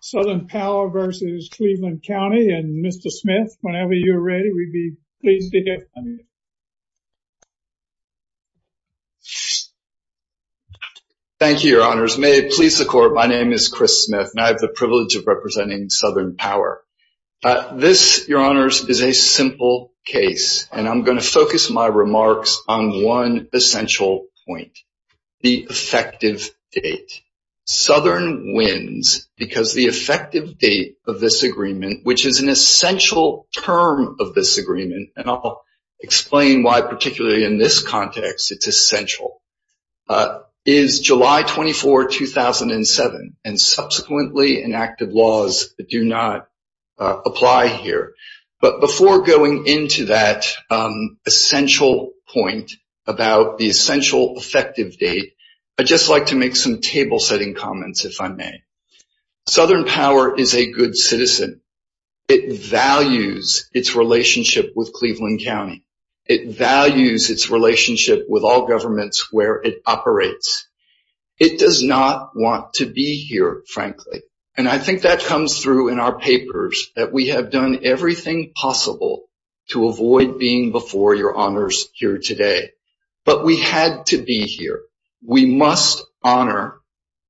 Southern Power v. Cleveland County and Mr. Smith, whenever you're ready, we'd be pleased to hear from you. Thank you, Your Honors. May it please the Court, my name is Chris Smith, and I have the privilege of representing Southern Power. This, Your Honors, is a simple case, and I'm going to focus my remarks on one essential point, the effective date. Southern wins because the effective date of this agreement, which is an essential term of this agreement, and I'll explain why particularly in this context it's essential, is July 24, 2007, and subsequently inactive laws do not apply here. But before going into that essential point about the essential effective date, I'd just like to make some table-setting comments, if I may. Southern Power is a good citizen. It values its relationship with Cleveland County. It values its relationship with all governments where it operates. It does not want to be here, frankly, and I think that comes through in our papers, that we have done everything possible to avoid being before Your Honors here today. But we had to be here. We must honor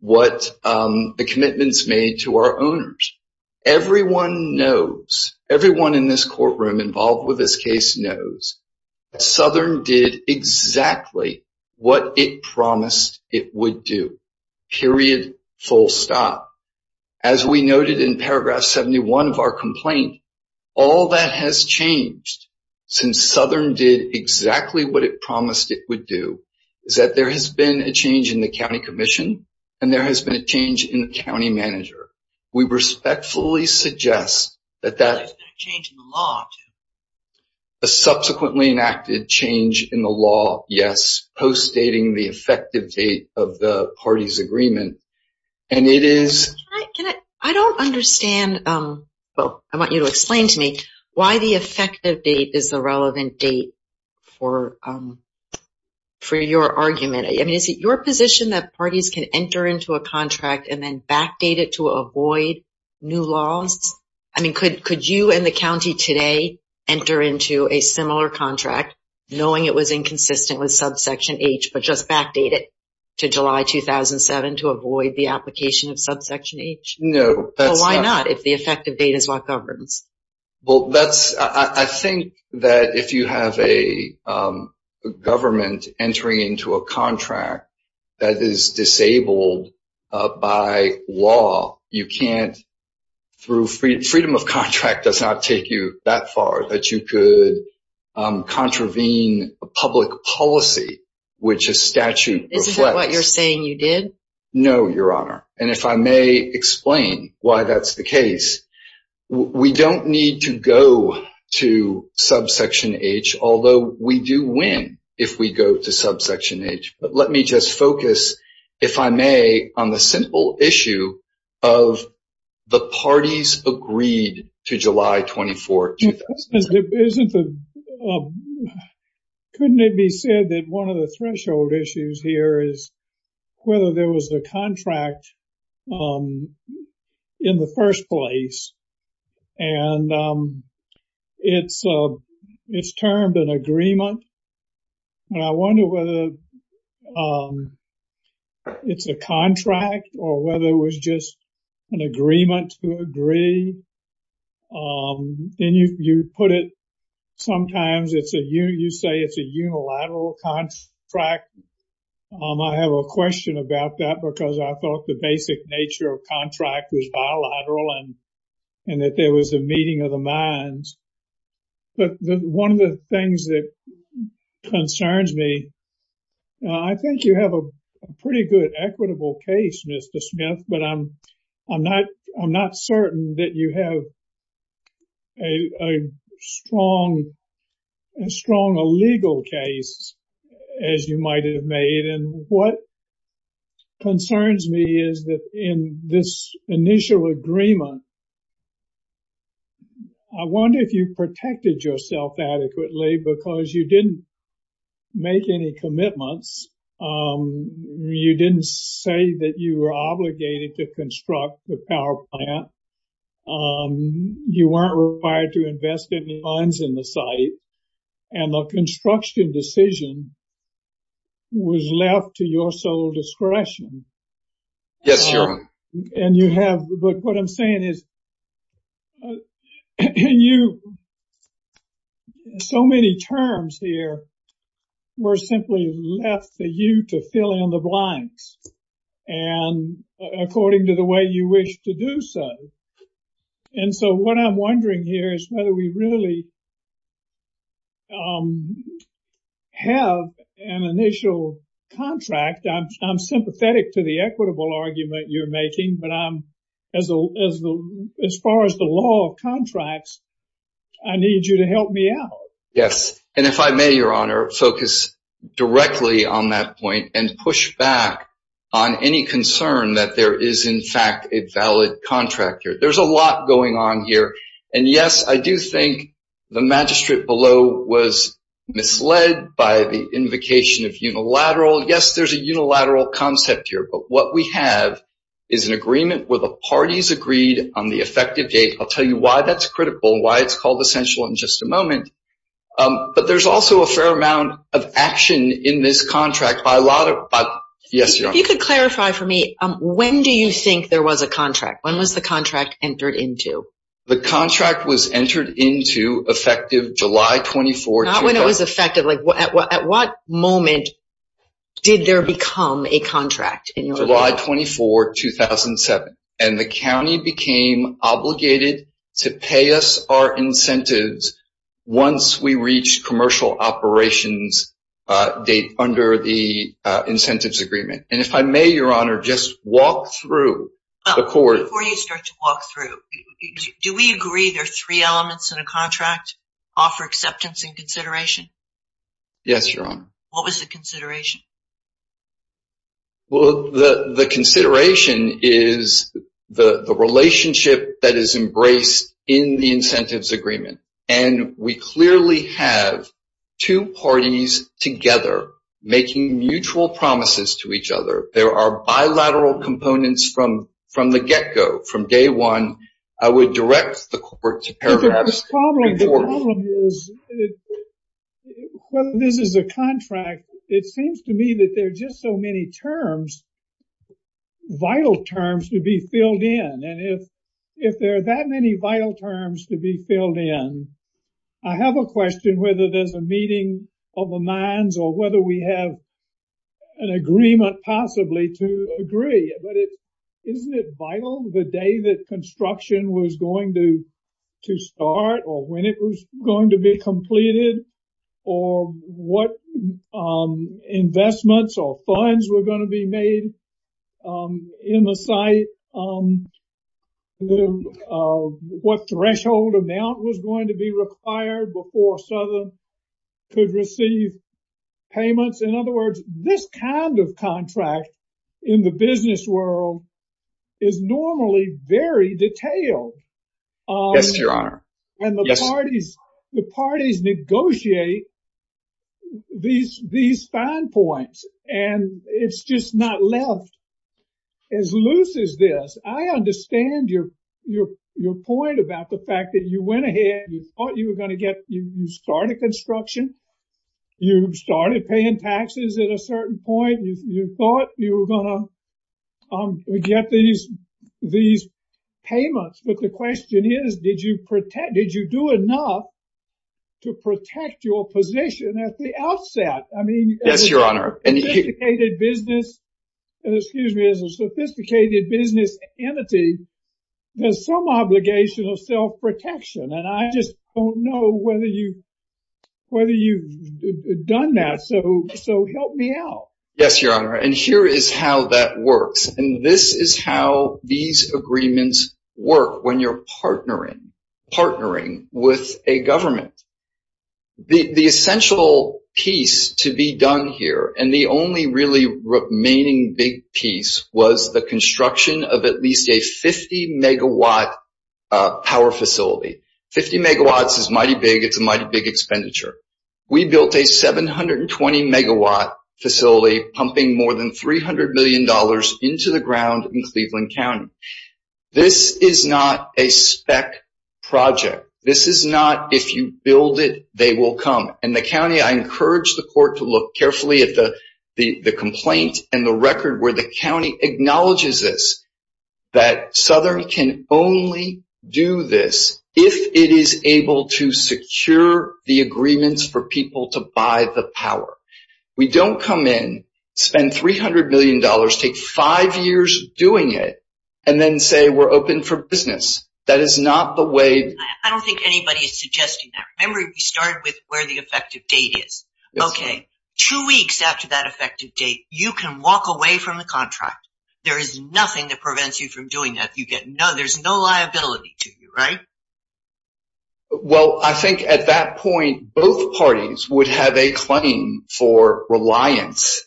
what the commitments made to our owners. Everyone knows, everyone in this courtroom involved with this case knows that Southern did exactly what it promised it would do, period, full stop. As we noted in paragraph 71 of our complaint, all that has changed since Southern did exactly what it promised it would do, is that there has been a change in the county commission and there has been a change in the county manager. We respectfully suggest that that... There has been a change in the law, too. A subsequently enacted change in the law, yes, post-dating the effective date of the parties' agreement, and it is... Can I, can I, I don't understand, well, I want you to explain to me why the effective date is the relevant date for your argument. I mean, is it your position that parties can enter into a contract and then backdate it to avoid new laws? I mean, could you and the county today enter into a similar contract, knowing it was inconsistent with subsection H, but just backdate it to July 2007 to avoid the application of subsection H? No, that's not... Well, why not, if the effective date is what governs? Well, that's, I think that if you have a government entering into a contract that is disabled by law, you can't, through, freedom of contract does not take you that far, that you could contravene a public policy which a statute reflects. Isn't that what you're saying you did? No, Your Honor. And if I may explain why that's the case, we don't need to go to subsection H, although we do win if we go to subsection H. But let me just focus, if I may, on the simple issue of the parties agreed to July 24, 2007. Couldn't it be said that one of the threshold issues here is whether there was a contract in the first place, and it's termed an agreement, and I wonder whether it's a contract or whether it was just an agreement to agree. Then you put it, sometimes you say it's a unilateral contract. I have a question about that because I thought the basic nature of contract was bilateral and that there was a meeting of the minds. But one of the things that concerns me, I think you have a pretty good equitable case, Mr. Smith, but I'm not certain that you have as strong a legal case as you might have made. And what concerns me is that in this initial agreement, I wonder if you protected yourself adequately because you didn't make any commitments. You didn't say that you were obligated to construct the power plant. You weren't required to invest any funds in the site, and the construction decision was left to your sole discretion. Yes, sir. But what I'm saying is so many terms here were simply left for you to fill in the blanks and according to the way you wish to do so. And so what I'm wondering here is whether we really have an initial contract. I'm sympathetic to the equitable argument you're making, but as far as the law of contracts, I need you to help me out. Yes. And if I may, Your Honor, focus directly on that point and push back on any concern that there is, in fact, a valid contract here. There's a lot going on here. And yes, I do think the magistrate below was misled by the invocation of unilateral. Yes, there's a unilateral concept here. But what we have is an agreement where the parties agreed on the effective date. I'll tell you why that's critical, why it's called essential in just a moment. But there's also a fair amount of action in this contract by a lot of. Yes, Your Honor. If you could clarify for me, when do you think there was a contract? When was the contract entered into? The contract was entered into effective July 24. Not when it was effective. At what moment did there become a contract? July 24, 2007. And the county became obligated to pay us our incentives once we reached commercial operations date under the incentives agreement. And if I may, Your Honor, just walk through the court. Before you start to walk through, do we agree there are three elements in a contract? Offer, acceptance, and consideration? Yes, Your Honor. What was the consideration? Well, the consideration is the relationship that is embraced in the incentives agreement. And we clearly have two parties together making mutual promises to each other. There are bilateral components from the get-go, from day one. I would direct the court to paragraph 14. The problem is, when this is a contract, it seems to me that there are just so many terms, vital terms to be filled in. And if there are that many vital terms to be filled in, I have a question whether there's a meeting of the minds or whether we have an agreement possibly to agree. But isn't it vital the day that construction was going to start or when it was going to be completed or what investments or funds were going to be made in the site? What threshold amount was going to be required before Southern could receive payments? In other words, this kind of contract in the business world is normally very detailed. Yes, Your Honor. And the parties negotiate these fine points. And it's just not left as loose as this. I understand your point about the fact that you went ahead and you thought you were going to get started construction. You started paying taxes at a certain point. You thought you were going to get these payments. But the question is, did you do enough to protect your position at the outset? Yes, Your Honor. As a sophisticated business entity, there's some obligation of self-protection. And I just don't know whether you've done that. So help me out. Yes, Your Honor. And here is how that works. And this is how these agreements work when you're partnering, partnering with a government. The essential piece to be done here and the only really remaining big piece was the construction of at least a 50-megawatt power facility. Fifty megawatts is mighty big. It's a mighty big expenditure. We built a 720-megawatt facility pumping more than $300 million into the ground in Cleveland County. This is not a spec project. This is not if you build it, they will come. In the county, I encourage the court to look carefully at the complaint and the record where the county acknowledges this, that Southern can only do this if it is able to secure the agreements for people to buy the power. We don't come in, spend $300 million, take five years doing it, and then say we're open for business. I don't think anybody is suggesting that. Remember, we started with where the effective date is. Okay. Two weeks after that effective date, you can walk away from the contract. There is nothing that prevents you from doing that. There's no liability to you, right? Well, I think at that point, both parties would have a claim for reliance,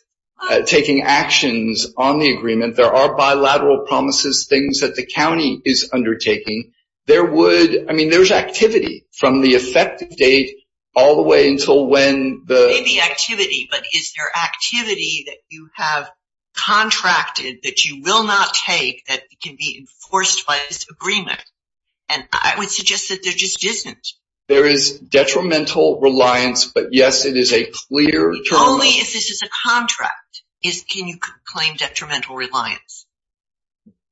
taking actions on the agreement. There are bilateral promises, things that the county is undertaking. There would – I mean, there's activity from the effective date all the way until when the – Maybe activity, but is there activity that you have contracted that you will not take that can be enforced by this agreement? And I would suggest that there just isn't. There is detrimental reliance, but, yes, it is a clear – Only if this is a contract can you claim detrimental reliance.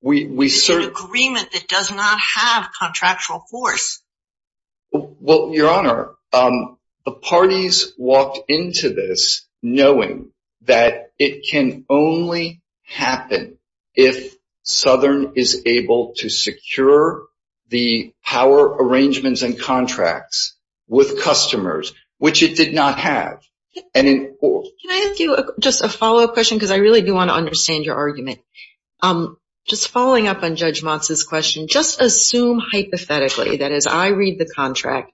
It's an agreement that does not have contractual force. Well, Your Honor, the parties walked into this knowing that it can only happen if Southern is able to secure the power arrangements and contracts with customers, which it did not have. Can I ask you just a follow-up question? Because I really do want to understand your argument. Just following up on Judge Motz's question, just assume hypothetically that as I read the contract,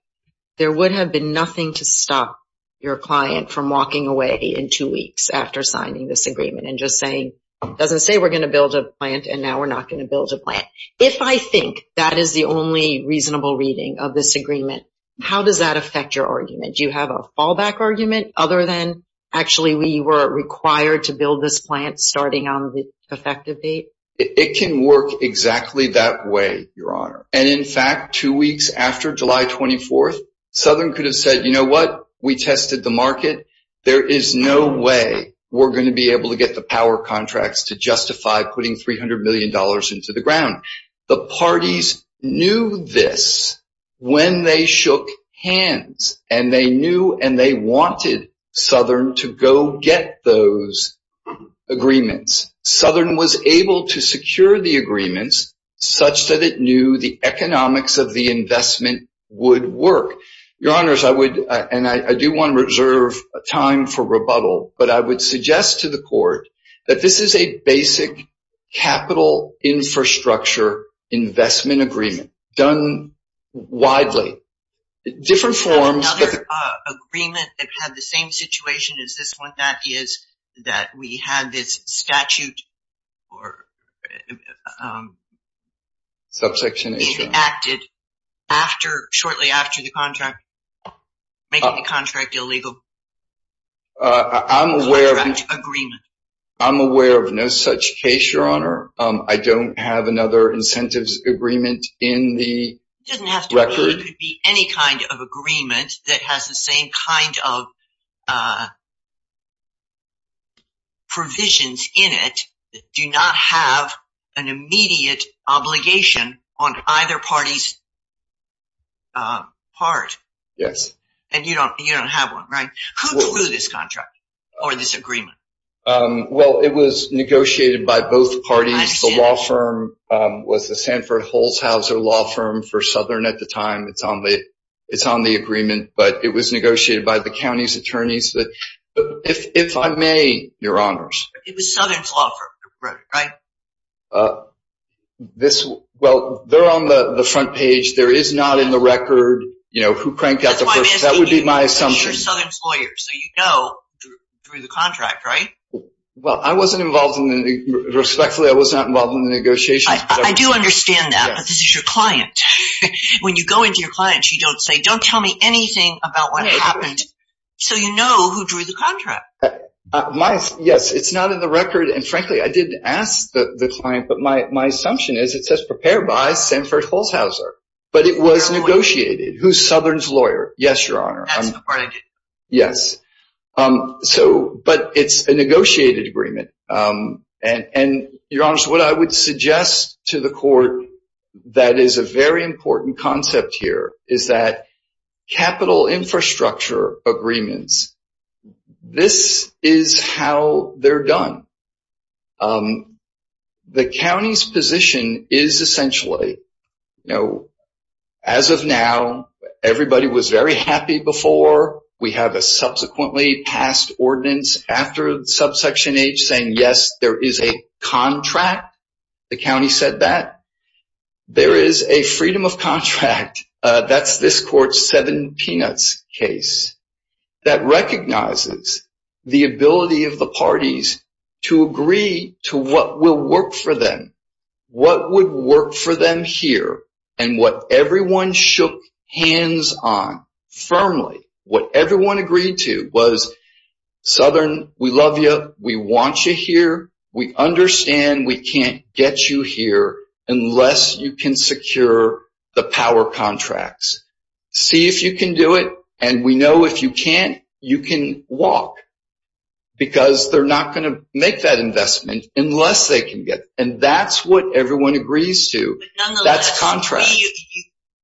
there would have been nothing to stop your client from walking away in two weeks after signing this agreement and just saying it doesn't say we're going to build a plant and now we're not going to build a plant. If I think that is the only reasonable reading of this agreement, how does that affect your argument? Do you have a fallback argument other than actually we were required to build this plant starting on the effective date? It can work exactly that way, Your Honor. And, in fact, two weeks after July 24th, Southern could have said, you know what, we tested the market. There is no way we're going to be able to get the power contracts to justify putting $300 million into the ground. The parties knew this when they shook hands, and they knew and they wanted Southern to go get those agreements. Southern was able to secure the agreements such that it knew the economics of the investment would work. Your Honors, I would, and I do want to reserve time for rebuttal, but I would suggest to the Court that this is a basic capital infrastructure investment agreement done widely. Another agreement that had the same situation as this one is that we had this statute acted shortly after the contract, making the contract illegal. I'm aware of no such case, Your Honor. I don't have another incentives agreement in the record. It doesn't have to be any kind of agreement that has the same kind of provisions in it that do not have an immediate obligation on either party's part. Yes. And you don't have one, right? Who drew this contract or this agreement? Well, it was negotiated by both parties. The law firm was the Sanford Holzhauser Law Firm for Southern at the time. It's on the agreement, but it was negotiated by the county's attorneys. If I may, Your Honors. It was Southern's law firm that wrote it, right? Well, they're on the front page. There is not in the record who cranked out the first. That would be my assumption. That's why I'm asking you. You're Southern's lawyer, so you know through the contract, right? Respectfully, I was not involved in the negotiations. I do understand that, but this is your client. When you go into your client, you don't say, don't tell me anything about what happened, so you know who drew the contract. Yes, it's not in the record, and frankly, I didn't ask the client, but my assumption is it says prepared by Sanford Holzhauser. But it was negotiated. Who's Southern's lawyer? Yes, Your Honor. That's the part I didn't know. Yes. But it's a negotiated agreement, and Your Honors, what I would suggest to the court that is a very important concept here is that capital infrastructure agreements, this is how they're done. The county's position is essentially, as of now, everybody was very happy before. We have a subsequently passed ordinance after subsection H saying, yes, there is a contract. The county said that. There is a freedom of contract. That's this court's seven peanuts case that recognizes the ability of the parties to agree to what will work for them, what would work for them here, and what everyone shook hands on firmly. What everyone agreed to was, Southern, we love you. We want you here. We understand we can't get you here unless you can secure the power contracts. See if you can do it, and we know if you can't, you can walk because they're not going to make that investment unless they can get it, and that's what everyone agrees to. That's contract.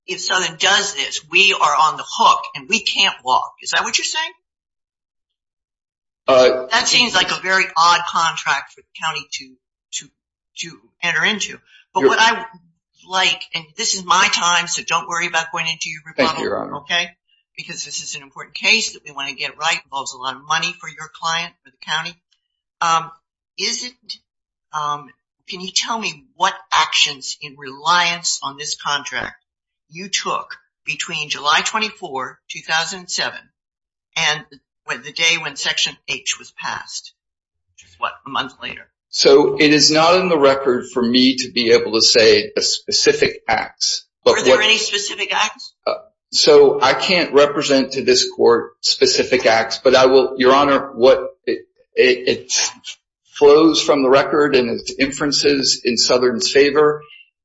If Southern does this, we are on the hook, and we can't walk. Is that what you're saying? That seems like a very odd contract for the county to enter into, but what I would like, and this is my time, so don't worry about going into your rebuttal. Thank you, Your Honor. Because this is an important case that we want to get right. It involves a lot of money for your client, for the county. Can you tell me what actions in reliance on this contract you took between July 24, 2007, and the day when Section H was passed, which is what, a month later? It is not in the record for me to be able to say specific acts. Were there any specific acts? I can't represent to this court specific acts, but, Your Honor, it flows from the record and its inferences in Southern's favor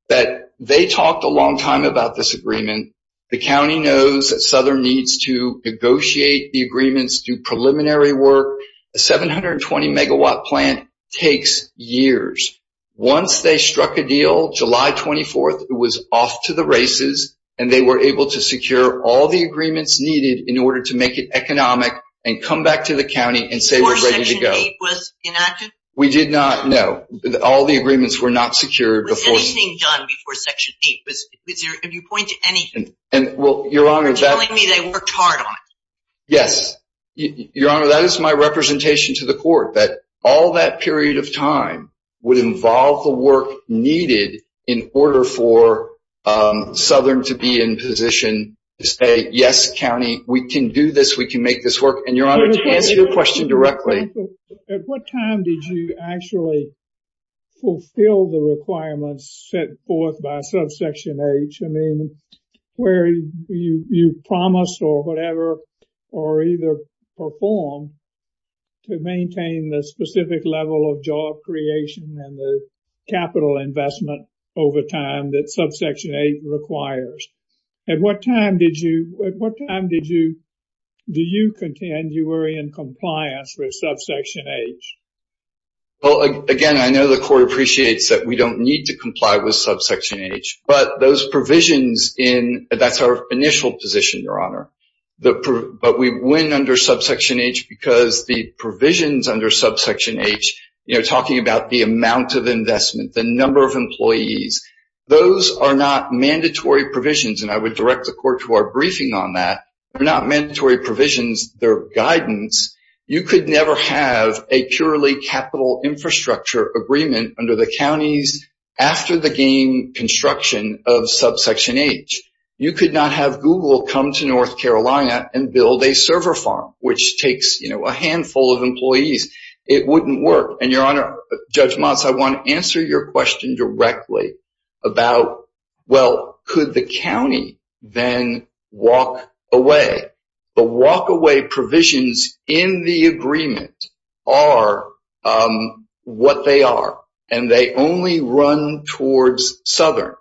that they talked a long time about this agreement. The county knows that Southern needs to negotiate the agreements, do preliminary work. A 720-megawatt plant takes years. Once they struck a deal, July 24, it was off to the races, and they were able to secure all the agreements needed in order to make it economic and come back to the county and say we're ready to go. Before Section H was enacted? We did not, no. All the agreements were not secured. Was anything done before Section H? If you point to anything, you're telling me they worked hard on it. Yes. Your Honor, that is my representation to the court, that all that period of time would involve the work needed in order for Southern to be in position to say, yes, county, we can do this, we can make this work. And, Your Honor, to answer your question directly. At what time did you actually fulfill the requirements set forth by subsection H? I mean, where you promised or whatever or either performed to maintain the specific level of job creation and the capital investment over time that subsection H requires. At what time did you, do you contend you were in compliance with subsection H? Well, again, I know the court appreciates that we don't need to comply with subsection H. But those provisions in, that's our initial position, Your Honor. But we went under subsection H because the provisions under subsection H, you know, talking about the amount of investment, the number of employees, those are not mandatory provisions. And I would direct the court to our briefing on that. They're not mandatory provisions. They're guidance. You could never have a purely capital infrastructure agreement under the counties after the game construction of subsection H. You could not have Google come to North Carolina and build a server farm, which takes, you know, a handful of employees. It wouldn't work. And, Your Honor, Judge Motz, I want to answer your question directly about, well, could the county then walk away? The walkaway provisions in the agreement are what they are, and they only run towards Southern.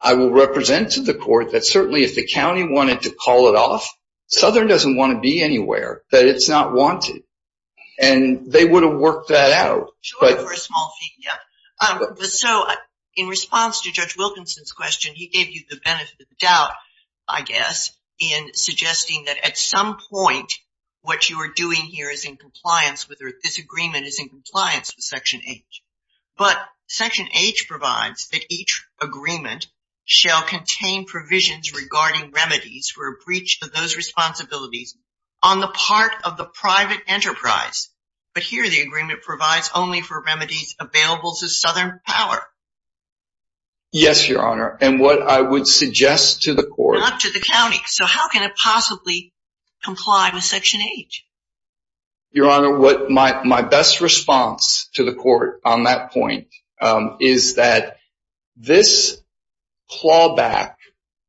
I will represent to the court that certainly if the county wanted to call it off, Southern doesn't want to be anywhere, that it's not wanted. And they would have worked that out. Sure, for a small fee, yeah. So in response to Judge Wilkinson's question, he gave you the benefit of the doubt, I guess, in suggesting that at some point what you are doing here is in compliance with or this agreement is in compliance with section H. But section H provides that each agreement shall contain provisions regarding remedies for a breach of those responsibilities on the part of the private enterprise. But here the agreement provides only for remedies available to Southern power. Yes, Your Honor. And what I would suggest to the court— Not to the county. So how can it possibly comply with section H? Your Honor, my best response to the court on that point is that this clawback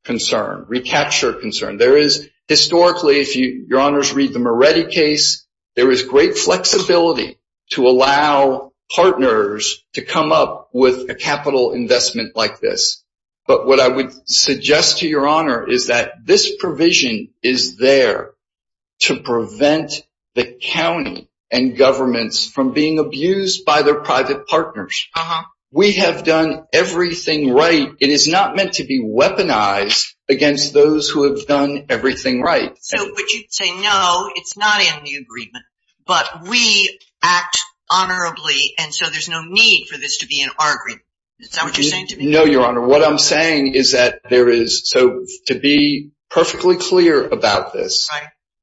concern, recapture concern, there is historically, if Your Honors read the Moretti case, there is great flexibility to allow partners to come up with a capital investment like this. But what I would suggest to Your Honor is that this provision is there to prevent the county and governments from being abused by their private partners. Uh-huh. We have done everything right. It is not meant to be weaponized against those who have done everything right. But you say no, it is not in the agreement, but we act honorably and so there is no need for this to be in our agreement. Is that what you are saying to me? No, Your Honor. Your Honor, what I am saying is that there is—so to be perfectly clear about this,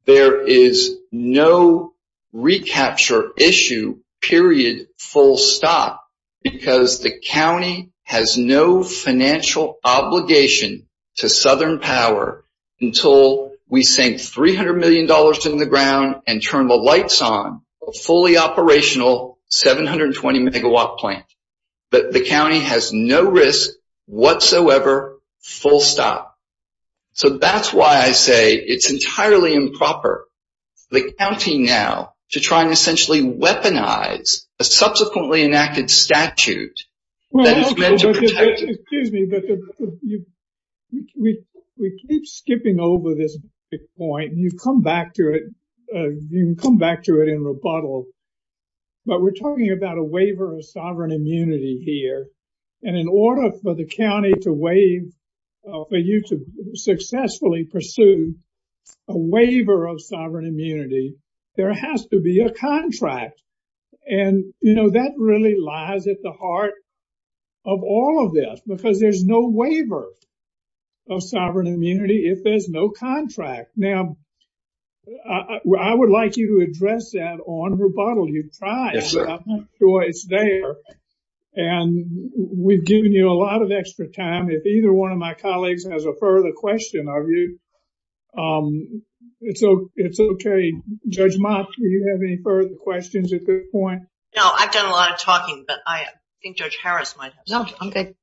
there is no recapture issue, period, full stop, because the county has no financial obligation to Southern power until we sink $300 million in the ground and turn the lights on a fully operational 720 megawatt plant. But the county has no risk whatsoever, full stop. So that is why I say it is entirely improper for the county now to try and essentially weaponize a subsequently enacted statute that is meant to protect— Excuse me, but we keep skipping over this point. You come back to it. You can come back to it in rebuttal. But we are talking about a waiver of sovereign immunity here. And in order for the county to waive—for you to successfully pursue a waiver of sovereign immunity, there has to be a contract. And, you know, that really lies at the heart of all of this because there is no waiver of sovereign immunity if there is no contract. Now, I would like you to address that on rebuttal. You tried. Yes, sir. And we've given you a lot of extra time. If either one of my colleagues has a further question of you, it's okay. Judge Mott, do you have any further questions at this point? No, I've done a lot of talking, but I think Judge Harris might have some. No, I'm good.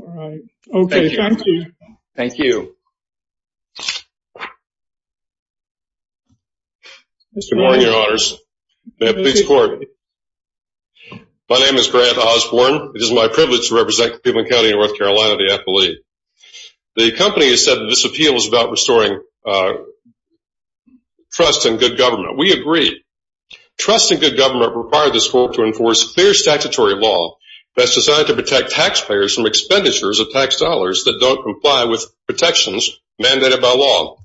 All right. Okay, thank you. Thank you. Good morning, Your Honors. May it please the Court. My name is Grant Osborne. It is my privilege to represent Cleveland County in North Carolina at the FLE. The company has said that this appeal is about restoring trust and good government. We agree. Trust and good government require this court to enforce clear statutory law that's designed to protect taxpayers from expenditures of tax dollars that don't comply with protections mandated by law.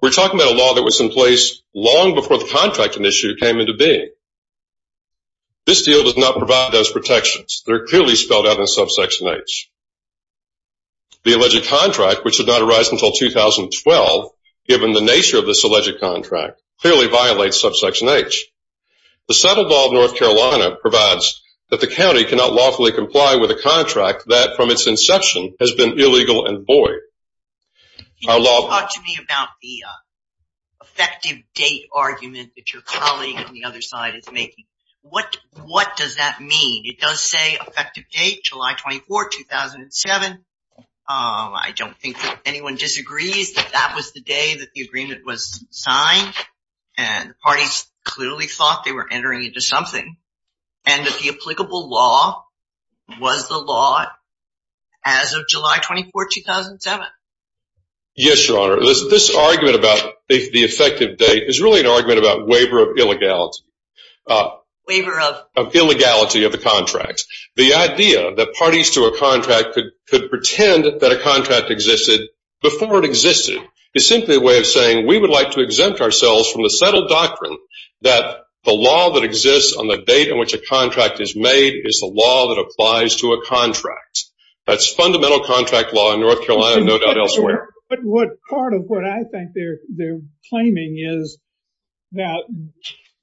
We're talking about a law that was in place long before the contracting issue came into being. This deal does not provide those protections. They're clearly spelled out in subsection H. The alleged contract, which did not arise until 2012, given the nature of this alleged contract, clearly violates subsection H. The settled law of North Carolina provides that the county cannot lawfully comply with a contract that from its inception has been illegal and void. Can you talk to me about the effective date argument that your colleague on the other side is making? What does that mean? It does say effective date, July 24, 2007. I don't think that anyone disagrees that that was the day that the agreement was signed, and the parties clearly thought they were entering into something, and that the applicable law was the law as of July 24, 2007. Yes, Your Honor. This argument about the effective date is really an argument about waiver of illegality. Waiver of? Of illegality of the contract. The idea that parties to a contract could pretend that a contract existed before it existed is simply a way of saying we would like to exempt ourselves from the settled doctrine that the law that exists on the date on which a contract is made is the law that applies to a contract. That's fundamental contract law in North Carolina and no doubt elsewhere. But part of what I think they're claiming is that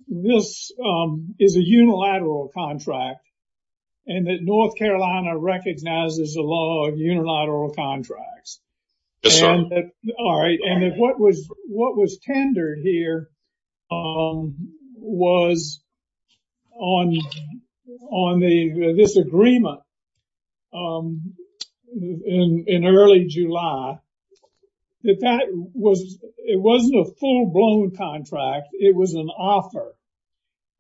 this is a unilateral contract and that North Carolina recognizes the law of unilateral contracts. Yes, sir. All right. And what was tendered here was on this agreement in early July, that it wasn't a full-blown contract, it was an offer,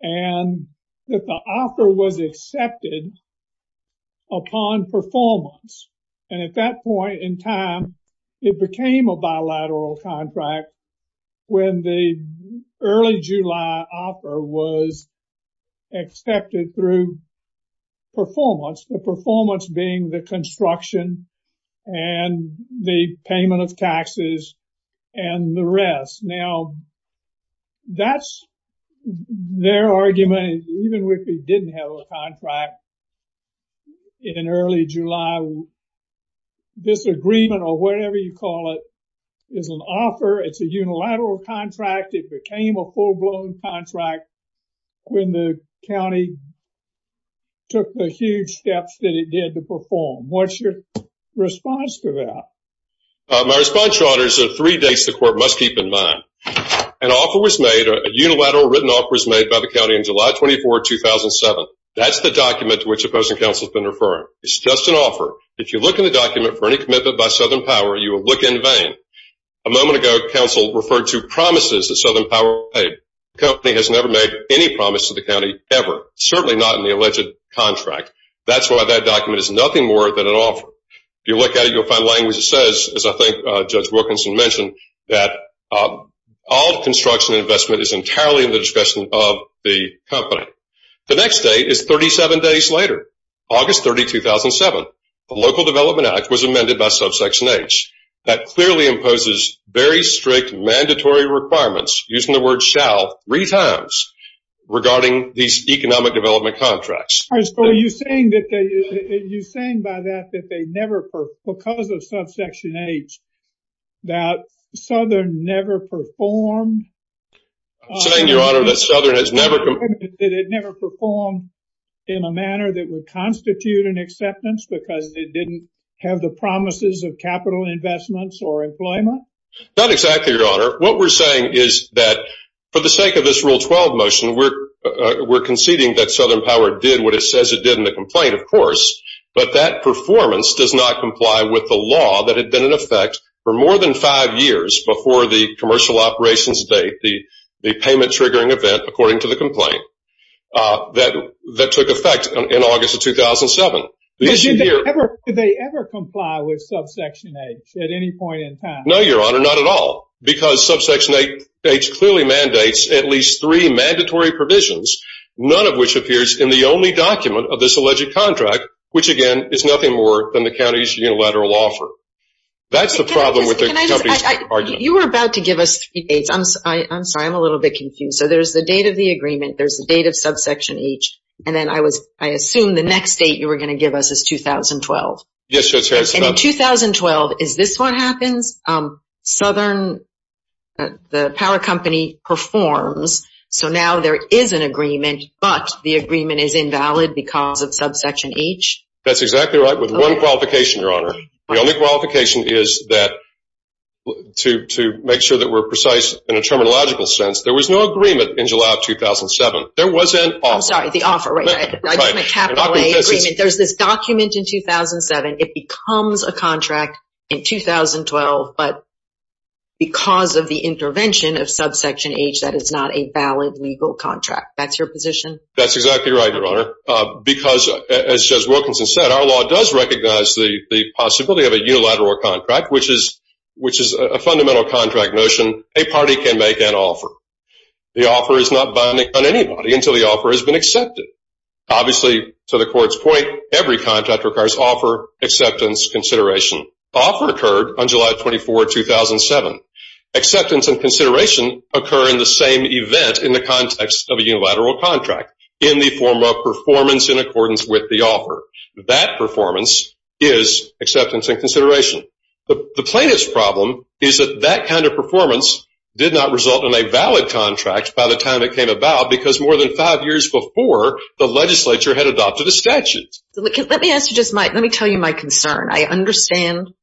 and that the offer was accepted upon performance. And at that point in time, it became a bilateral contract when the early July offer was accepted through performance, the performance being the construction and the payment of taxes and the rest. Now, that's their argument. Even if we didn't have a contract in early July, this agreement or whatever you call it is an offer. It's a unilateral contract. It became a full-blown contract when the county took the huge steps that it did to perform. What's your response to that? My response, Your Honor, is there are three things the court must keep in mind. An offer was made, a unilateral written offer was made by the county on July 24, 2007. That's the document to which opposing counsel has been referring. It's just an offer. If you look in the document for any commitment by Southern Power, you will look in vain. A moment ago, counsel referred to promises that Southern Power paid. The company has never made any promise to the county ever, certainly not in the alleged contract. That's why that document is nothing more than an offer. If you look at it, you'll find language that says, as I think Judge Wilkinson mentioned, that all construction investment is entirely in the discretion of the company. The next date is 37 days later, August 30, 2007. The Local Development Act was amended by Subsection H. That clearly imposes very strict mandatory requirements, using the word shall three times, regarding these economic development contracts. Are you saying by that that because of Subsection H, that Southern never performed? I'm saying, Your Honor, that Southern has never- Did it never perform in a manner that would constitute an acceptance because it didn't have the promises of capital investments or employment? Not exactly, Your Honor. What we're saying is that for the sake of this Rule 12 motion, we're conceding that Southern Power did what it says it did in the complaint, of course, but that performance does not comply with the law that had been in effect for more than five years before the commercial operations date, the payment-triggering event, according to the complaint, that took effect in August of 2007. Did they ever comply with Subsection H at any point in time? No, Your Honor, not at all, because Subsection H clearly mandates at least three mandatory provisions, none of which appears in the only document of this alleged contract, which, again, is nothing more than the county's unilateral offer. That's the problem with the company's argument. You were about to give us three dates. I'm sorry, I'm a little bit confused. So there's the date of the agreement, there's the date of Subsection H, and then I assumed the next date you were going to give us is 2012. Yes, Your Honor. And in 2012, is this what happens? Southern, the power company, performs, so now there is an agreement, but the agreement is invalid because of Subsection H? That's exactly right, with one qualification, Your Honor. The only qualification is that, to make sure that we're precise in a terminological sense, there was no agreement in July of 2007. There was an offer. I'm sorry, the offer, right. There's this document in 2007. It becomes a contract in 2012, but because of the intervention of Subsection H that it's not a valid legal contract. That's your position? That's exactly right, Your Honor, because, as Judge Wilkinson said, our law does recognize the possibility of a unilateral contract, which is a fundamental contract notion. A party can make an offer. The offer is not binding on anybody until the offer has been accepted. Obviously, to the Court's point, every contract requires offer, acceptance, consideration. The offer occurred on July 24, 2007. Acceptance and consideration occur in the same event in the context of a unilateral contract, in the form of performance in accordance with the offer. That performance is acceptance and consideration. The plaintiff's problem is that that kind of performance did not result in a valid contract by the time it came about because more than five years before, the legislature had adopted a statute. Let me tell you my concern. I understand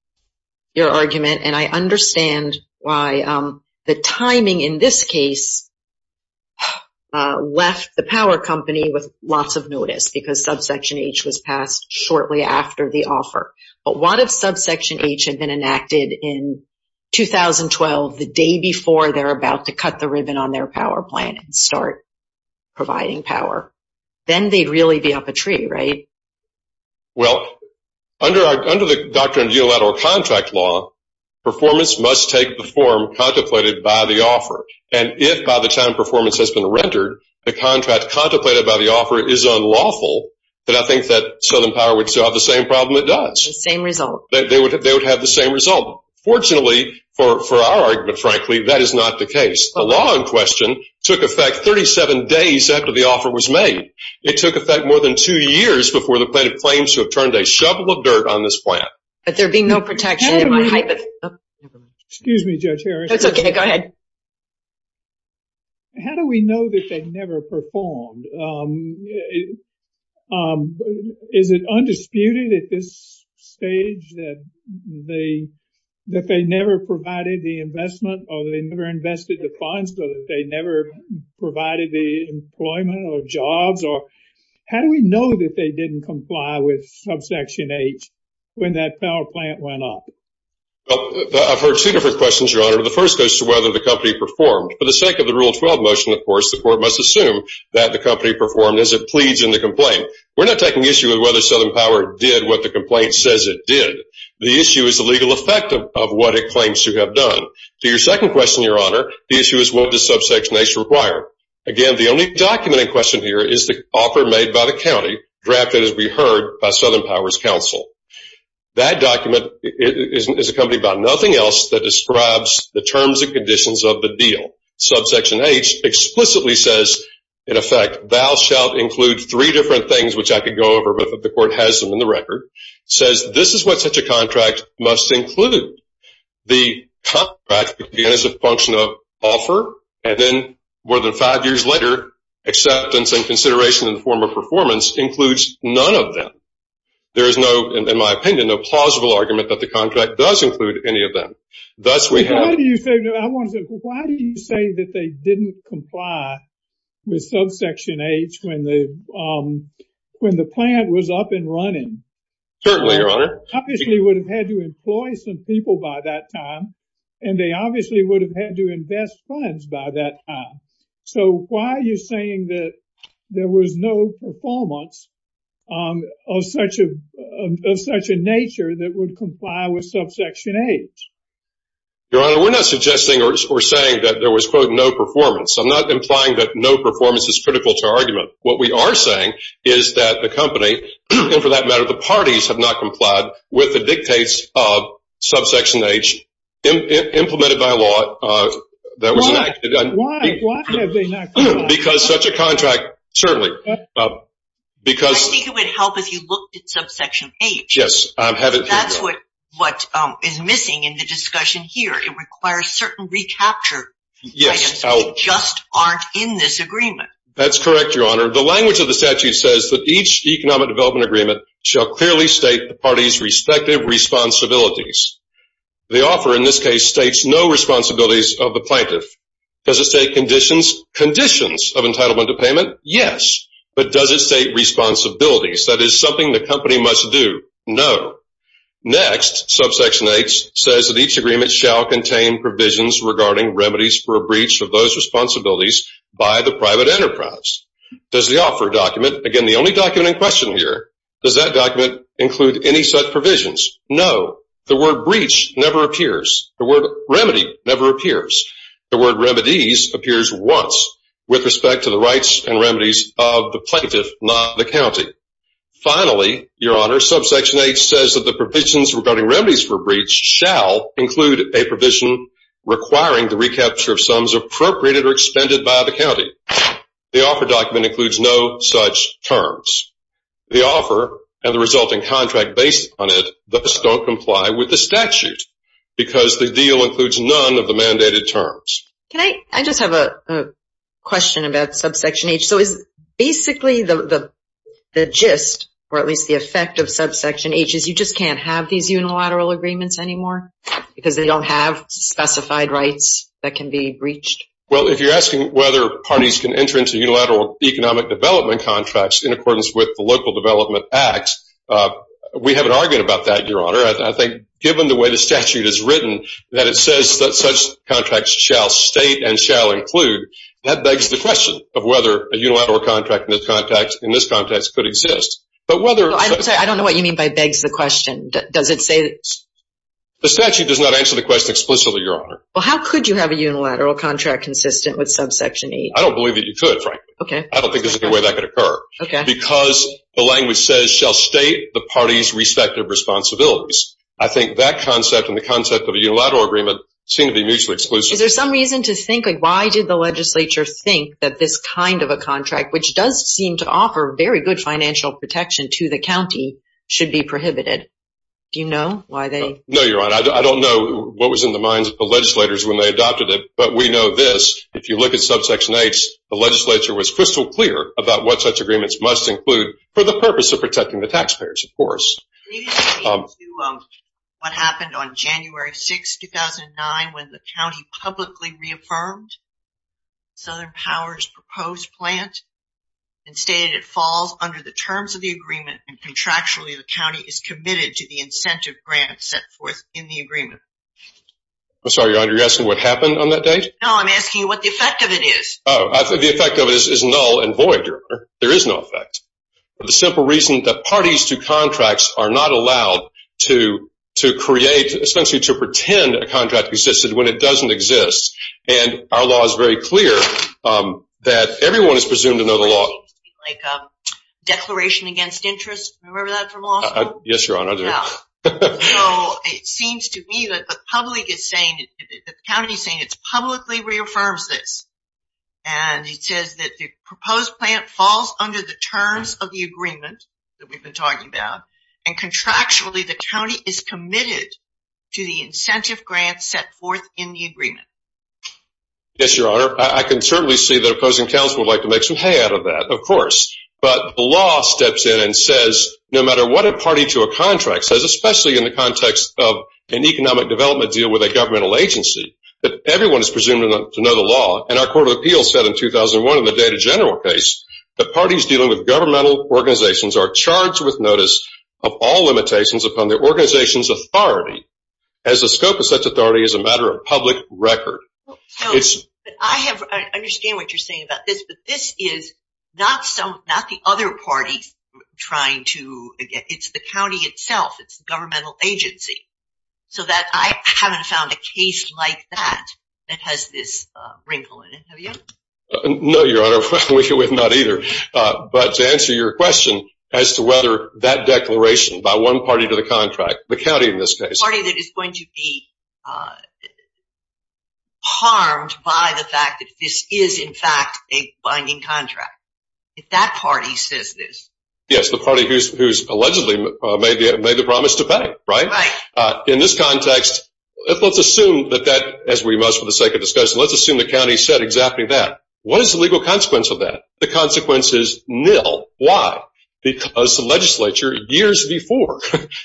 your argument, and I understand why the timing in this case left the power company with lots of notice because Subsection H was passed shortly after the offer. But what if Subsection H had been enacted in 2012, the day before they're about to cut the ribbon on their power plan and start providing power? Then they'd really be up a tree, right? Well, under the doctrine of unilateral contract law, performance must take the form contemplated by the offer. And if, by the time performance has been rendered, the contract contemplated by the offer is unlawful, then I think that Southern Power would still have the same problem it does. The same result. They would have the same result. Fortunately, for our argument, frankly, that is not the case. The law in question took effect 37 days after the offer was made. It took effect more than two years before the plaintiff claims to have turned a shovel of dirt on this plant. But there'd be no protection in my hypothesis. Excuse me, Judge Harris. That's okay. Go ahead. How do we know that they never performed? Is it undisputed at this stage that they never provided the investment or they never invested the funds, or that they never provided the employment or jobs? Or how do we know that they didn't comply with subsection H when that power plant went up? I've heard two different questions, Your Honor. The first goes to whether the company performed. Of course, the court must assume that the company performed as it pleads in the complaint. We're not taking issue with whether Southern Power did what the complaint says it did. The issue is the legal effect of what it claims to have done. To your second question, Your Honor, the issue is what does subsection H require? Again, the only document in question here is the offer made by the county, drafted, as we heard, by Southern Power's counsel. That document is accompanied by nothing else that describes the terms and conditions of the deal. Subsection H explicitly says, in effect, thou shalt include three different things, which I could go over, but the court has them in the record. It says this is what such a contract must include. The contract, again, is a function of offer, and then more than five years later, acceptance and consideration in the form of performance includes none of them. There is no, in my opinion, no plausible argument that the contract does include any of them. Why do you say that they didn't comply with subsection H when the plan was up and running? Certainly, Your Honor. They obviously would have had to employ some people by that time, and they obviously would have had to invest funds by that time. So why are you saying that there was no performance of such a nature that would comply with subsection H? Your Honor, we're not suggesting or saying that there was, quote, no performance. I'm not implying that no performance is critical to our argument. What we are saying is that the company, and for that matter, the parties have not complied with the dictates of subsection H implemented by law. Why? Why have they not complied? Because such a contract, certainly. I think it would help if you looked at subsection H. Yes. That's what is missing in the discussion here. It requires certain recapture items that just aren't in this agreement. That's correct, Your Honor. The language of the statute says that each economic development agreement shall clearly state the parties' respective responsibilities. The offer, in this case, states no responsibilities of the plaintiff. Does it state conditions of entitlement to payment? Yes. But does it state responsibilities? That is something the company must do. No. Next, subsection H says that each agreement shall contain provisions regarding remedies for a breach of those responsibilities by the private enterprise. Does the offer document, again, the only document in question here, does that document include any such provisions? No. The word breach never appears. The word remedy never appears. The word remedies appears once with respect to the rights and remedies of the plaintiff, not the county. Finally, Your Honor, subsection H says that the provisions regarding remedies for breach shall include a provision requiring the recapture of sums appropriated or expended by the county. The offer document includes no such terms. The offer and the resulting contract based on it thus don't comply with the statute because the deal includes none of the mandated terms. Can I just have a question about subsection H? So is basically the gist or at least the effect of subsection H is you just can't have these unilateral agreements anymore because they don't have specified rights that can be breached? Well, if you're asking whether parties can enter into unilateral economic development contracts in accordance with the Local Development Act, we haven't argued about that, Your Honor. I think given the way the statute is written, that it says that such contracts shall state and shall include, that begs the question of whether a unilateral contract in this context could exist. I'm sorry. I don't know what you mean by begs the question. Does it say? The statute does not answer the question explicitly, Your Honor. Well, how could you have a unilateral contract consistent with subsection H? I don't believe that you could, frankly. Okay. I don't think there's any way that could occur. Okay. Because the language says shall state the parties' respective responsibilities. I think that concept and the concept of a unilateral agreement seem to be mutually exclusive. Is there some reason to think, like, why did the legislature think that this kind of a contract, which does seem to offer very good financial protection to the county, should be prohibited? Do you know why they? No, Your Honor. I don't know what was in the minds of the legislators when they adopted it, but we know this. If you look at subsection H, the legislature was crystal clear about what such agreements must include for the purpose of protecting the taxpayers, of course. Can you explain to me what happened on January 6, 2009, when the county publicly reaffirmed Southern Power's proposed plant and stated it falls under the terms of the agreement and contractually the county is committed to the incentive grant set forth in the agreement? I'm sorry, Your Honor. You're asking what happened on that date? No, I'm asking what the effect of it is. The effect of it is null and void, Your Honor. There is no effect. The simple reason that parties to contracts are not allowed to create, essentially to pretend a contract existed when it doesn't exist, and our law is very clear that everyone is presumed to know the law. Like a declaration against interest? Remember that from law school? Yes, Your Honor. I do. It seems to me that the county is saying it publicly reaffirms this, and it says that the proposed plant falls under the terms of the agreement that we've been talking about, and contractually the county is committed to the incentive grant set forth in the agreement. Yes, Your Honor. I can certainly see that opposing counsel would like to make some hay out of that, of course. But the law steps in and says no matter what a party to a contract says, especially in the context of an economic development deal with a governmental agency, that everyone is presumed to know the law, and our Court of Appeals said in 2001 in the Data General case, that parties dealing with governmental organizations are charged with notice of all limitations upon the organization's authority, as the scope of such authority is a matter of public record. I understand what you're saying about this, but this is not the other party trying to, it's the county itself, it's the governmental agency. So I haven't found a case like that that has this wrinkle in it. Have you? No, Your Honor. We have not either. But to answer your question as to whether that declaration by one party to the contract, the county in this case. It's the party that is going to be harmed by the fact that this is, in fact, a binding contract. If that party says this. Yes, the party who's allegedly made the promise to pay, right? Right. In this context, let's assume that that, as we must for the sake of discussion, let's assume the county said exactly that. What is the legal consequence of that? The consequence is nil. Why? Because the legislature, years before,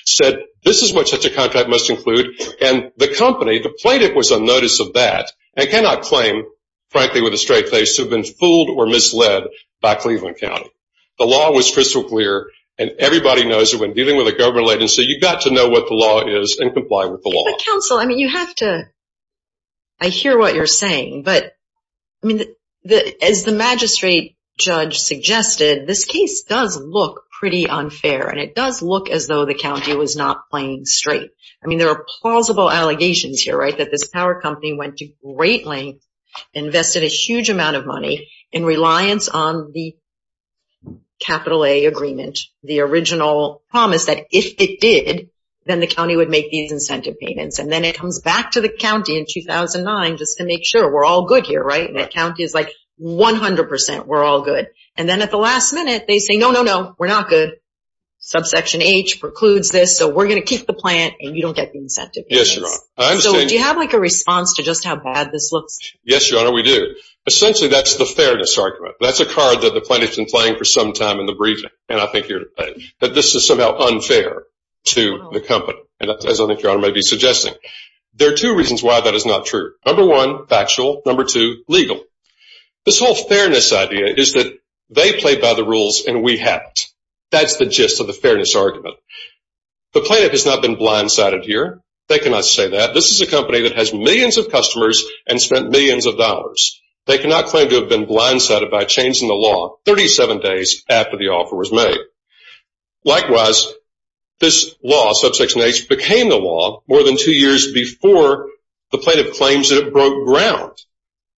said, this is what such a contract must include. And the company, the plaintiff was on notice of that and cannot claim, frankly, with a straight face, to have been fooled or misled by Cleveland County. The law was crystal clear, and everybody knows that when dealing with a government agency, you've got to know what the law is and comply with the law. But, counsel, I mean, you have to, I hear what you're saying, but, I mean, as the magistrate judge suggested, this case does look pretty unfair, and it does look as though the county was not playing straight. I mean, there are plausible allegations here, right, that this power company went to great lengths, invested a huge amount of money in reliance on the capital A agreement, the original promise that if it did, then the county would make these incentive payments. And then it comes back to the county in 2009 just to make sure we're all good here, right? And that county is like, 100%, we're all good. And then at the last minute, they say, no, no, no, we're not good. Subsection H precludes this, so we're going to keep the plant, and you don't get the incentive payments. So do you have, like, a response to just how bad this looks? Yes, Your Honor, we do. Essentially, that's the fairness argument. That's a card that the plaintiff's been playing for some time in the briefing, and I think you're right, that this is somehow unfair to the company, as I think Your Honor might be suggesting. There are two reasons why that is not true. Number one, factual. Number two, legal. This whole fairness idea is that they play by the rules and we haven't. That's the gist of the fairness argument. The plaintiff has not been blindsided here. They cannot say that. This is a company that has millions of customers and spent millions of dollars. They cannot claim to have been blindsided by changing the law 37 days after the offer was made. Likewise, this law, Subsection H, became the law more than two years before the plaintiff claims that it broke ground.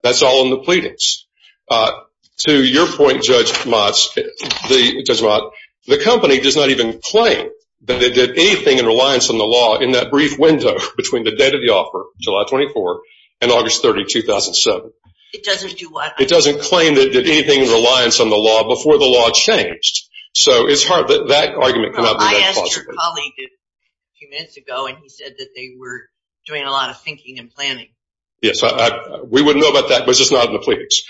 That's all in the pleadings. To your point, Judge Mott, the company does not even claim that it did anything in reliance on the law in that brief window between the date of the offer, July 24, and August 30, 2007. It doesn't do what? So it's hard. That argument cannot be made possible. I asked your colleague a few minutes ago, and he said that they were doing a lot of thinking and planning. Yes, we wouldn't know about that, but it's just not in the pleadings.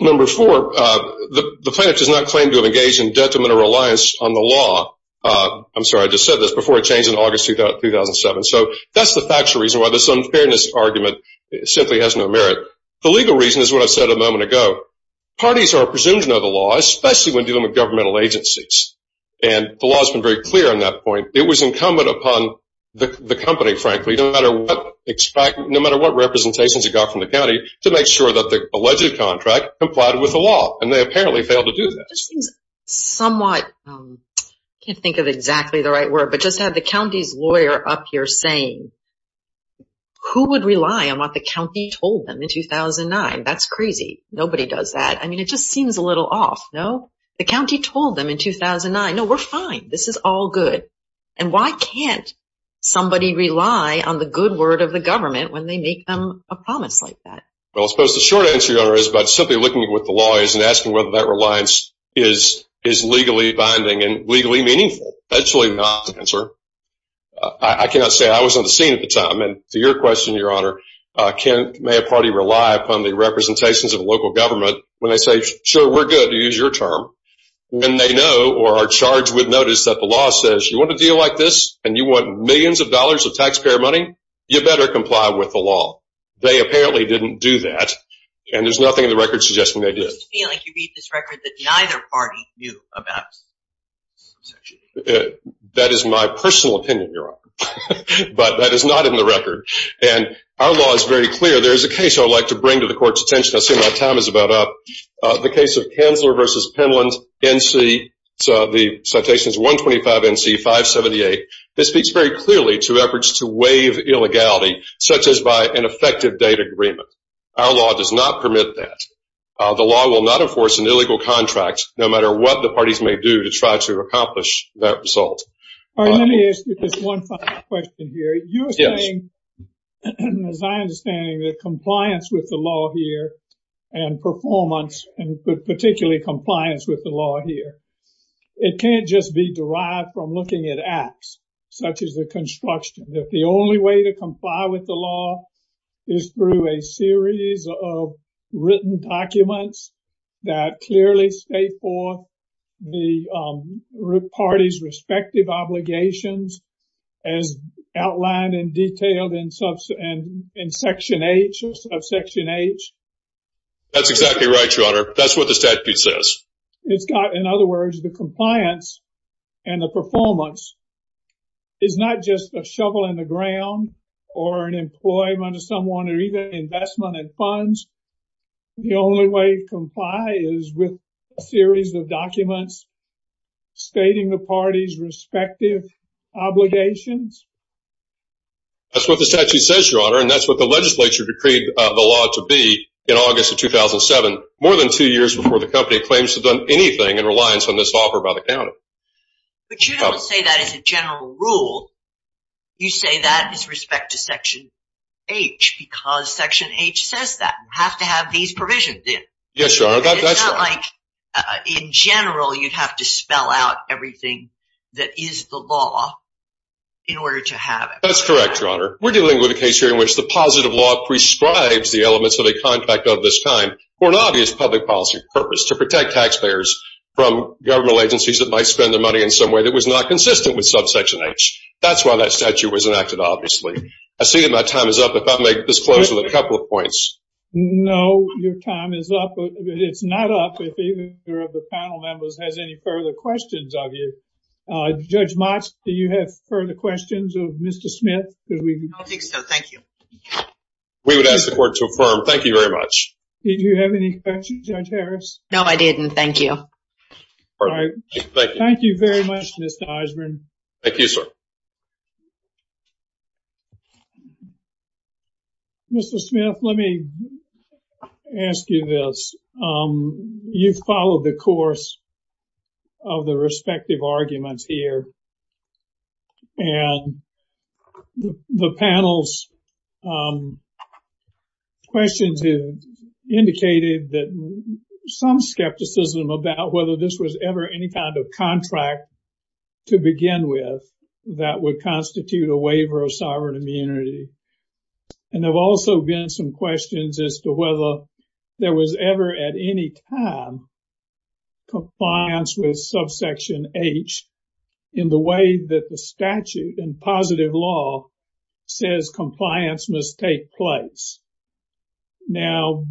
Number four, the plaintiff does not claim to have engaged in detrimental reliance on the law. I'm sorry, I just said this, before it changed in August 2007. So that's the factual reason why this unfairness argument simply has no merit. The legal reason is what I said a moment ago. Parties are presumed to know the law, especially when dealing with governmental agencies, and the law has been very clear on that point. It was incumbent upon the company, frankly, no matter what representations it got from the county, to make sure that the alleged contract complied with the law, and they apparently failed to do that. This seems somewhat, I can't think of exactly the right word, but just to have the county's lawyer up here saying, who would rely on what the county told them in 2009? That's crazy. Nobody does that. I mean, it just seems a little off, no? The county told them in 2009, no, we're fine, this is all good. And why can't somebody rely on the good word of the government when they make them a promise like that? Well, I suppose the short answer, Your Honor, is by simply looking with the lawyers and asking whether that reliance is legally binding and legally meaningful. That's really not the answer. I cannot say I was on the scene at the time. And to your question, Your Honor, may a party rely upon the representations of a local government when they say, sure, we're good, you use your term, when they know or are charged with notice that the law says, you want a deal like this and you want millions of dollars of taxpayer money? You better comply with the law. They apparently didn't do that, and there's nothing in the record suggesting they did. I just feel like you read this record that neither party knew about. That is my personal opinion, Your Honor. But that is not in the record. And our law is very clear. There is a case I would like to bring to the Court's attention. I assume my time is about up. The case of Kanzler v. Penland NC, the citation is 125 NC 578. This speaks very clearly to efforts to waive illegality, such as by an effective date agreement. Our law does not permit that. The law will not enforce an illegal contract, no matter what the parties may do to try to accomplish that result. All right, let me ask you this one final question here. You were saying, as I understand it, that compliance with the law here and performance, and particularly compliance with the law here, it can't just be derived from looking at acts, such as the construction. If the only way to comply with the law is through a series of written documents that clearly state for the parties' respective obligations, as outlined and detailed in Section H. That's exactly right, Your Honor. That's what the statute says. In other words, the compliance and the performance is not just a shovel in the ground or an employment of someone or even investment in funds. Stating the parties' respective obligations? That's what the statute says, Your Honor, and that's what the legislature decreed the law to be in August of 2007, more than two years before the company claims to have done anything in reliance on this offer by the county. But you don't say that as a general rule. You say that with respect to Section H, because Section H says that. We have to have these provisions in. Yes, Your Honor. It's not like in general you'd have to spell out everything that is the law in order to have it. That's correct, Your Honor. We're dealing with a case here in which the positive law prescribes the elements of a contract of this kind for an obvious public policy purpose to protect taxpayers from government agencies that might spend their money in some way that was not consistent with Subsection H. That's why that statute was enacted, obviously. I see that my time is up. If I may disclose a couple of points. No, your time is up. It's not up if either of the panel members has any further questions of you. Judge Motz, do you have further questions of Mr. Smith? I don't think so. Thank you. We would ask the court to affirm. Thank you very much. Did you have any questions, Judge Harris? No, I didn't. Thank you. All right. Thank you. Thank you very much, Mr. Osborne. Thank you, sir. Mr. Smith, let me ask you this. You've followed the course of the respective arguments here. And the panel's questions have indicated that some skepticism about whether this was ever any kind of contract to begin with, that would constitute a waiver of sovereign immunity. And there have also been some questions as to whether there was ever, at any time, compliance with Subsection H in the way that the statute in positive law says compliance must take place. Now,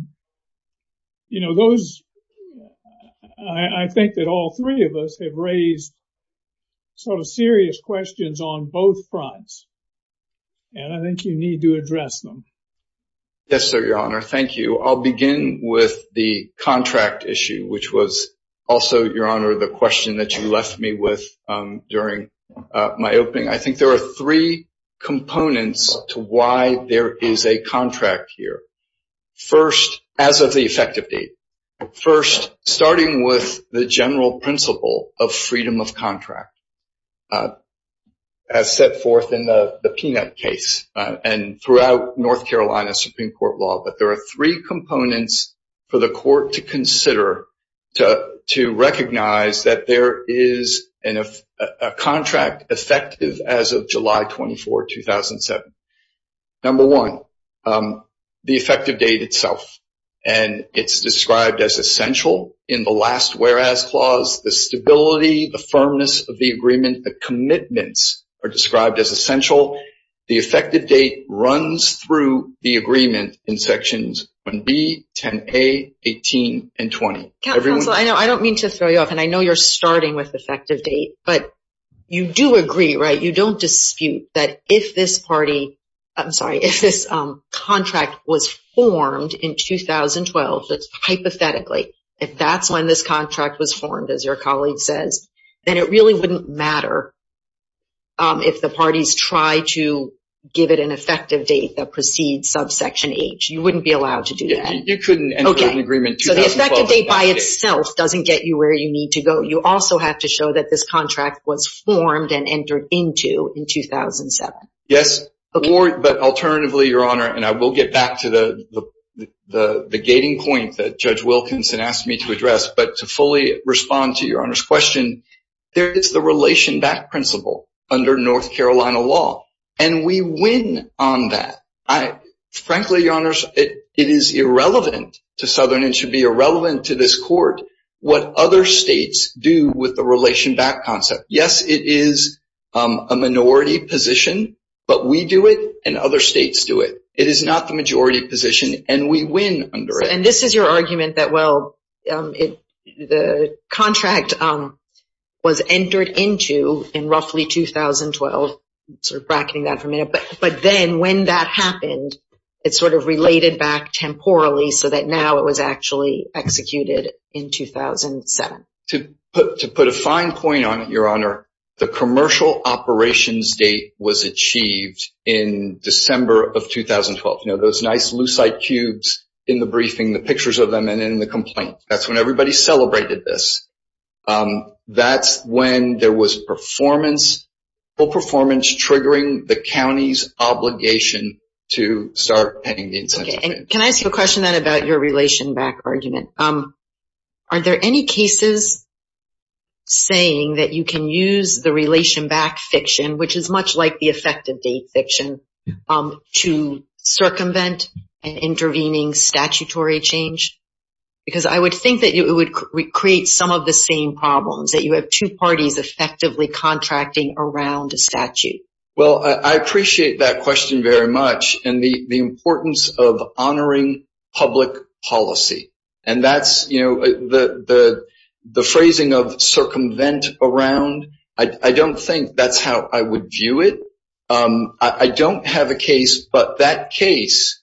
I think that all three of us have raised sort of serious questions on both fronts. And I think you need to address them. Yes, sir, Your Honor. Thank you. I'll begin with the contract issue, which was also, Your Honor, the question that you left me with during my opening. I think there are three components to why there is a contract here. First, as of the effective date. First, starting with the general principle of freedom of contract, as set forth in the Peanut case and throughout North Carolina Supreme Court law, that there are three components for the court to consider to recognize that there is a contract effective as of July 24, 2007. Number one, the effective date itself. And it's described as essential in the last whereas clause. The stability, the firmness of the agreement, the commitments are described as essential. The effective date runs through the agreement in sections 1B, 10A, 18, and 20. Counsel, I don't mean to throw you off, and I know you're starting with effective date, but you do agree, right? You don't dispute that if this party, I'm sorry, if this contract was formed in 2012, hypothetically, if that's when this contract was formed, as your colleague says, then it really wouldn't matter if the parties try to give it an effective date that precedes subsection H. You wouldn't be allowed to do that. You couldn't enter an agreement 2012. So the effective date by itself doesn't get you where you need to go. You also have to show that this contract was formed and entered into in 2007. Yes, but alternatively, Your Honor, and I will get back to the gating point that Judge Wilkinson asked me to address, but to fully respond to Your Honor's question, there is the relation back principle under North Carolina law, and we win on that. Frankly, Your Honor, it is irrelevant to Southern, and should be irrelevant to this court, what other states do with the relation back concept. Yes, it is a minority position, but we do it, and other states do it. It is not the majority position, and we win under it. And this is your argument that, well, the contract was entered into in roughly 2012, sort of bracketing that for a minute, but then when that happened, it sort of related back temporally so that now it was actually executed in 2007. To put a fine point on it, Your Honor, the commercial operations date was achieved in December of 2012. You know, those nice lucite cubes in the briefing, the pictures of them, and in the complaint. That's when everybody celebrated this. That's when there was performance, full performance, triggering the county's obligation to start paying the incentives. Okay, and can I ask you a question then about your relation back argument? Are there any cases saying that you can use the relation back fiction, which is much like the effective date fiction, to circumvent intervening statutory change? Because I would think that it would create some of the same problems, that you have two parties effectively contracting around a statute. Well, I appreciate that question very much and the importance of honoring public policy. And that's, you know, the phrasing of circumvent around, I don't think that's how I would view it. I don't have a case, but that case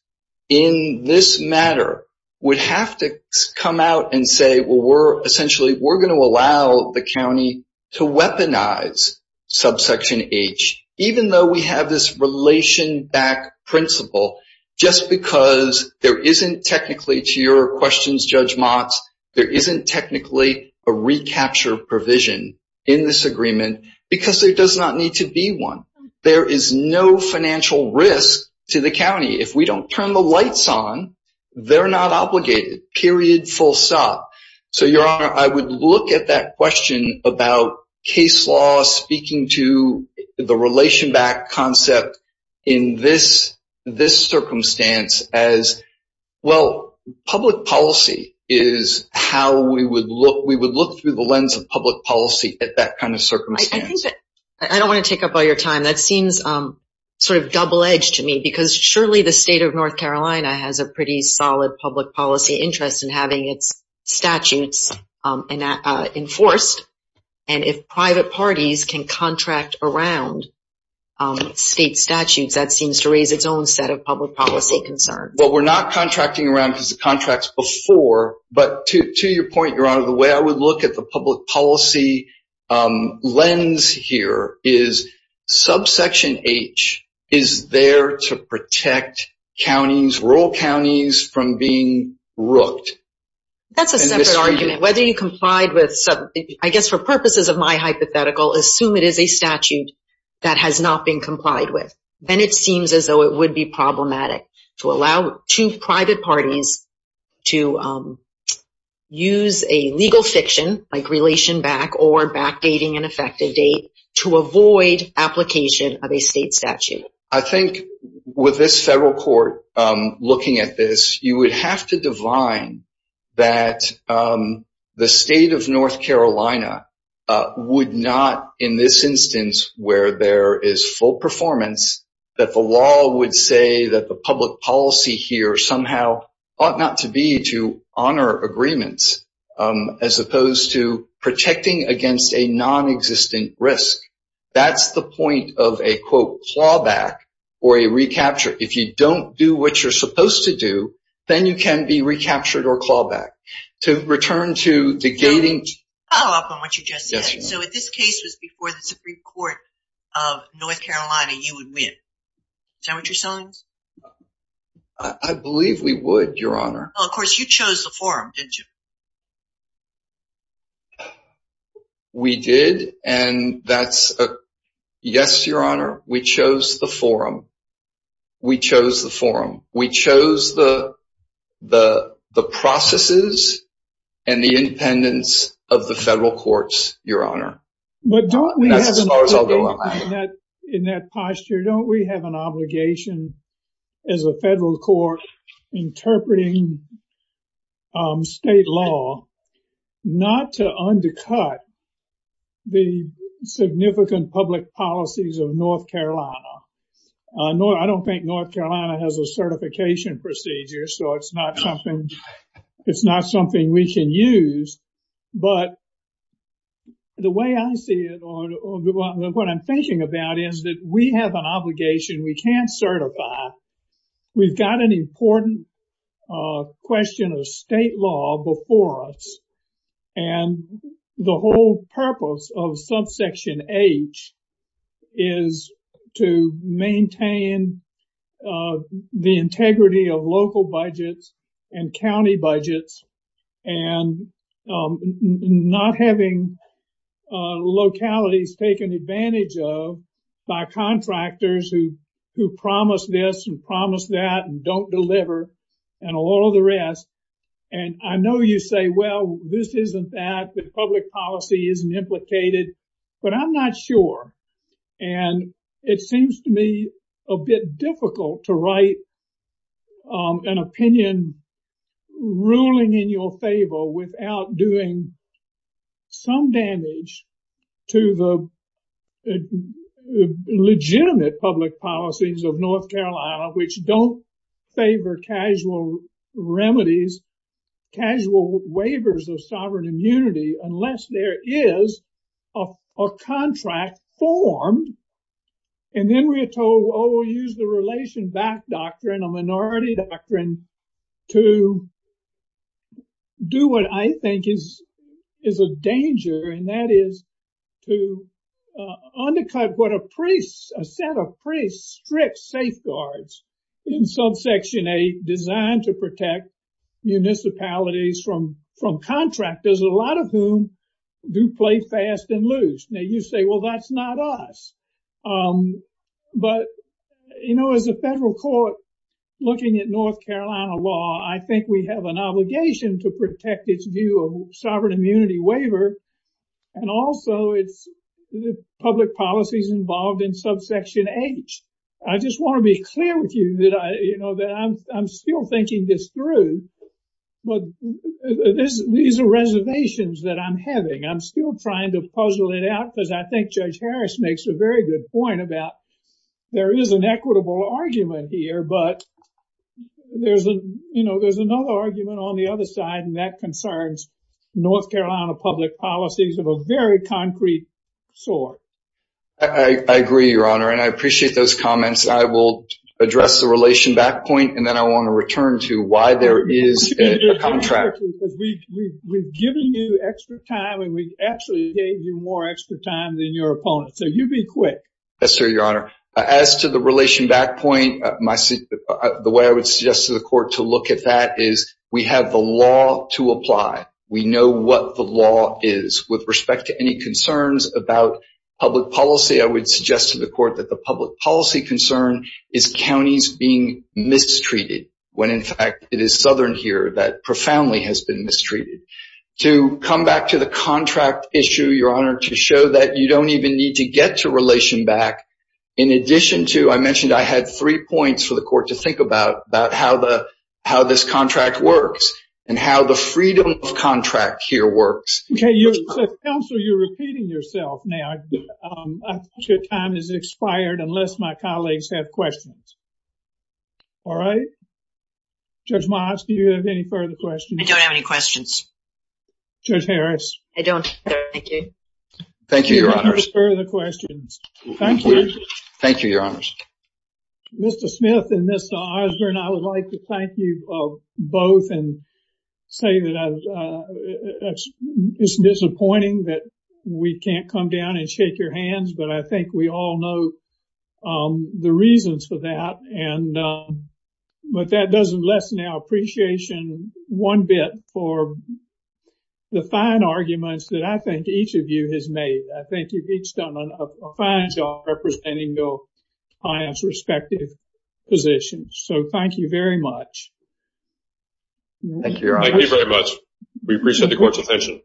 in this matter would have to come out and say, well, we're essentially, we're going to allow the county to weaponize subsection H, even though we have this relation back principle, just because there isn't technically, to your questions, Judge Motz, there isn't technically a recapture provision in this agreement, because there does not need to be one. There is no financial risk to the county. If we don't turn the lights on, they're not obligated, period, full stop. So, Your Honor, I would look at that question about case law speaking to the relation back concept in this circumstance as, well, public policy is how we would look. We would look through the lens of public policy at that kind of circumstance. I don't want to take up all your time. That seems sort of double edged to me, because surely the state of North Carolina has a pretty solid public policy interest in having its statutes enforced, and if private parties can contract around state statutes, that seems to raise its own set of public policy concerns. Well, we're not contracting around the contracts before, but to your point, Your Honor, the way I would look at the public policy lens here is subsection H is there to protect counties, rural counties, from being rooked. That's a separate argument. Whether you complied with, I guess for purposes of my hypothetical, assume it is a statute that has not been complied with, then it seems as though it would be problematic to allow two private parties to use a legal fiction like relation back or backdating an effective date to avoid application of a state statute. I think with this federal court looking at this, you would have to divine that the state of North Carolina would not, in this instance where there is full performance, that the law would say that the public policy here somehow ought not to be to honor agreements as opposed to protecting against a non-existent risk. That's the point of a, quote, clawback or a recapture. If you don't do what you're supposed to do, then you can be recaptured or clawback. To return to the gating... I'll follow up on what you just said. So if this case was before the Supreme Court of North Carolina, you would win. Is that what you're saying? I believe we would, Your Honor. Of course, you chose the forum, didn't you? We did. And that's a yes, Your Honor. We chose the forum. We chose the forum. We chose the processes and the independence of the federal courts, Your Honor. But don't we have an obligation in that posture? Don't we have an obligation as a federal court interpreting state law not to undercut the significant public policies of North Carolina? I don't think North Carolina has a certification procedure, so it's not something we can use. But the way I see it or what I'm thinking about is that we have an obligation we can't certify. We've got an important question of state law before us. And the whole purpose of subsection H is to maintain the integrity of local budgets and county budgets and not having localities taken advantage of by contractors who promise this and promise that and don't deliver and all the rest. And I know you say, well, this isn't that the public policy isn't implicated, but I'm not sure. And it seems to me a bit difficult to write an opinion ruling in your favor without doing some damage to the legitimate public policies of North Carolina, which don't favor casual remedies, casual waivers of sovereign immunity, unless there is a contract formed. And then we are told, oh, we'll use the relation back doctrine, a minority doctrine to do what I think is a danger. But, you know, as a federal court looking at North Carolina law, I think we have an obligation to protect its view of sovereign immunity waiver. And also, it's the public policies involved in subsection H. I just want to be clear with you that I, you know, that I'm still thinking this through. But these are reservations that I'm having. I'm still trying to puzzle it out because I think Judge Harris makes a very good point about there is an equitable argument here, but there's, you know, there's another argument on the other side. And that concerns North Carolina public policies of a very concrete sort. I agree, Your Honor, and I appreciate those comments. I will address the relation back point. And then I want to return to why there is a contract. We've given you extra time and we actually gave you more extra time than your opponent. So you be quick. Yes, sir, Your Honor. As to the relation back point, the way I would suggest to the court to look at that is we have the law to apply. We know what the law is with respect to any concerns about public policy. I would suggest to the court that the public policy concern is counties being mistreated when, in fact, it is southern here that profoundly has been mistreated. To come back to the contract issue, Your Honor, to show that you don't even need to get to relation back. In addition to I mentioned I had three points for the court to think about, about how the how this contract works and how the freedom of contract here works. Counsel, you're repeating yourself now. Your time has expired unless my colleagues have questions. All right. Judge Moss, do you have any further questions? I don't have any questions. Judge Harris? I don't. Thank you. Thank you, Your Honor. No further questions. Thank you. Thank you, Your Honor. Mr. Smith and Mr. Osborne, I would like to thank you both and say that it's disappointing that we can't come down and shake your hands. But I think we all know the reasons for that. And but that doesn't lessen our appreciation one bit for the fine arguments that I think each of you has made. I think you've each done a fine job representing your clients' respective positions. So thank you very much. Thank you, Your Honor. Thank you very much. We appreciate the court's attention.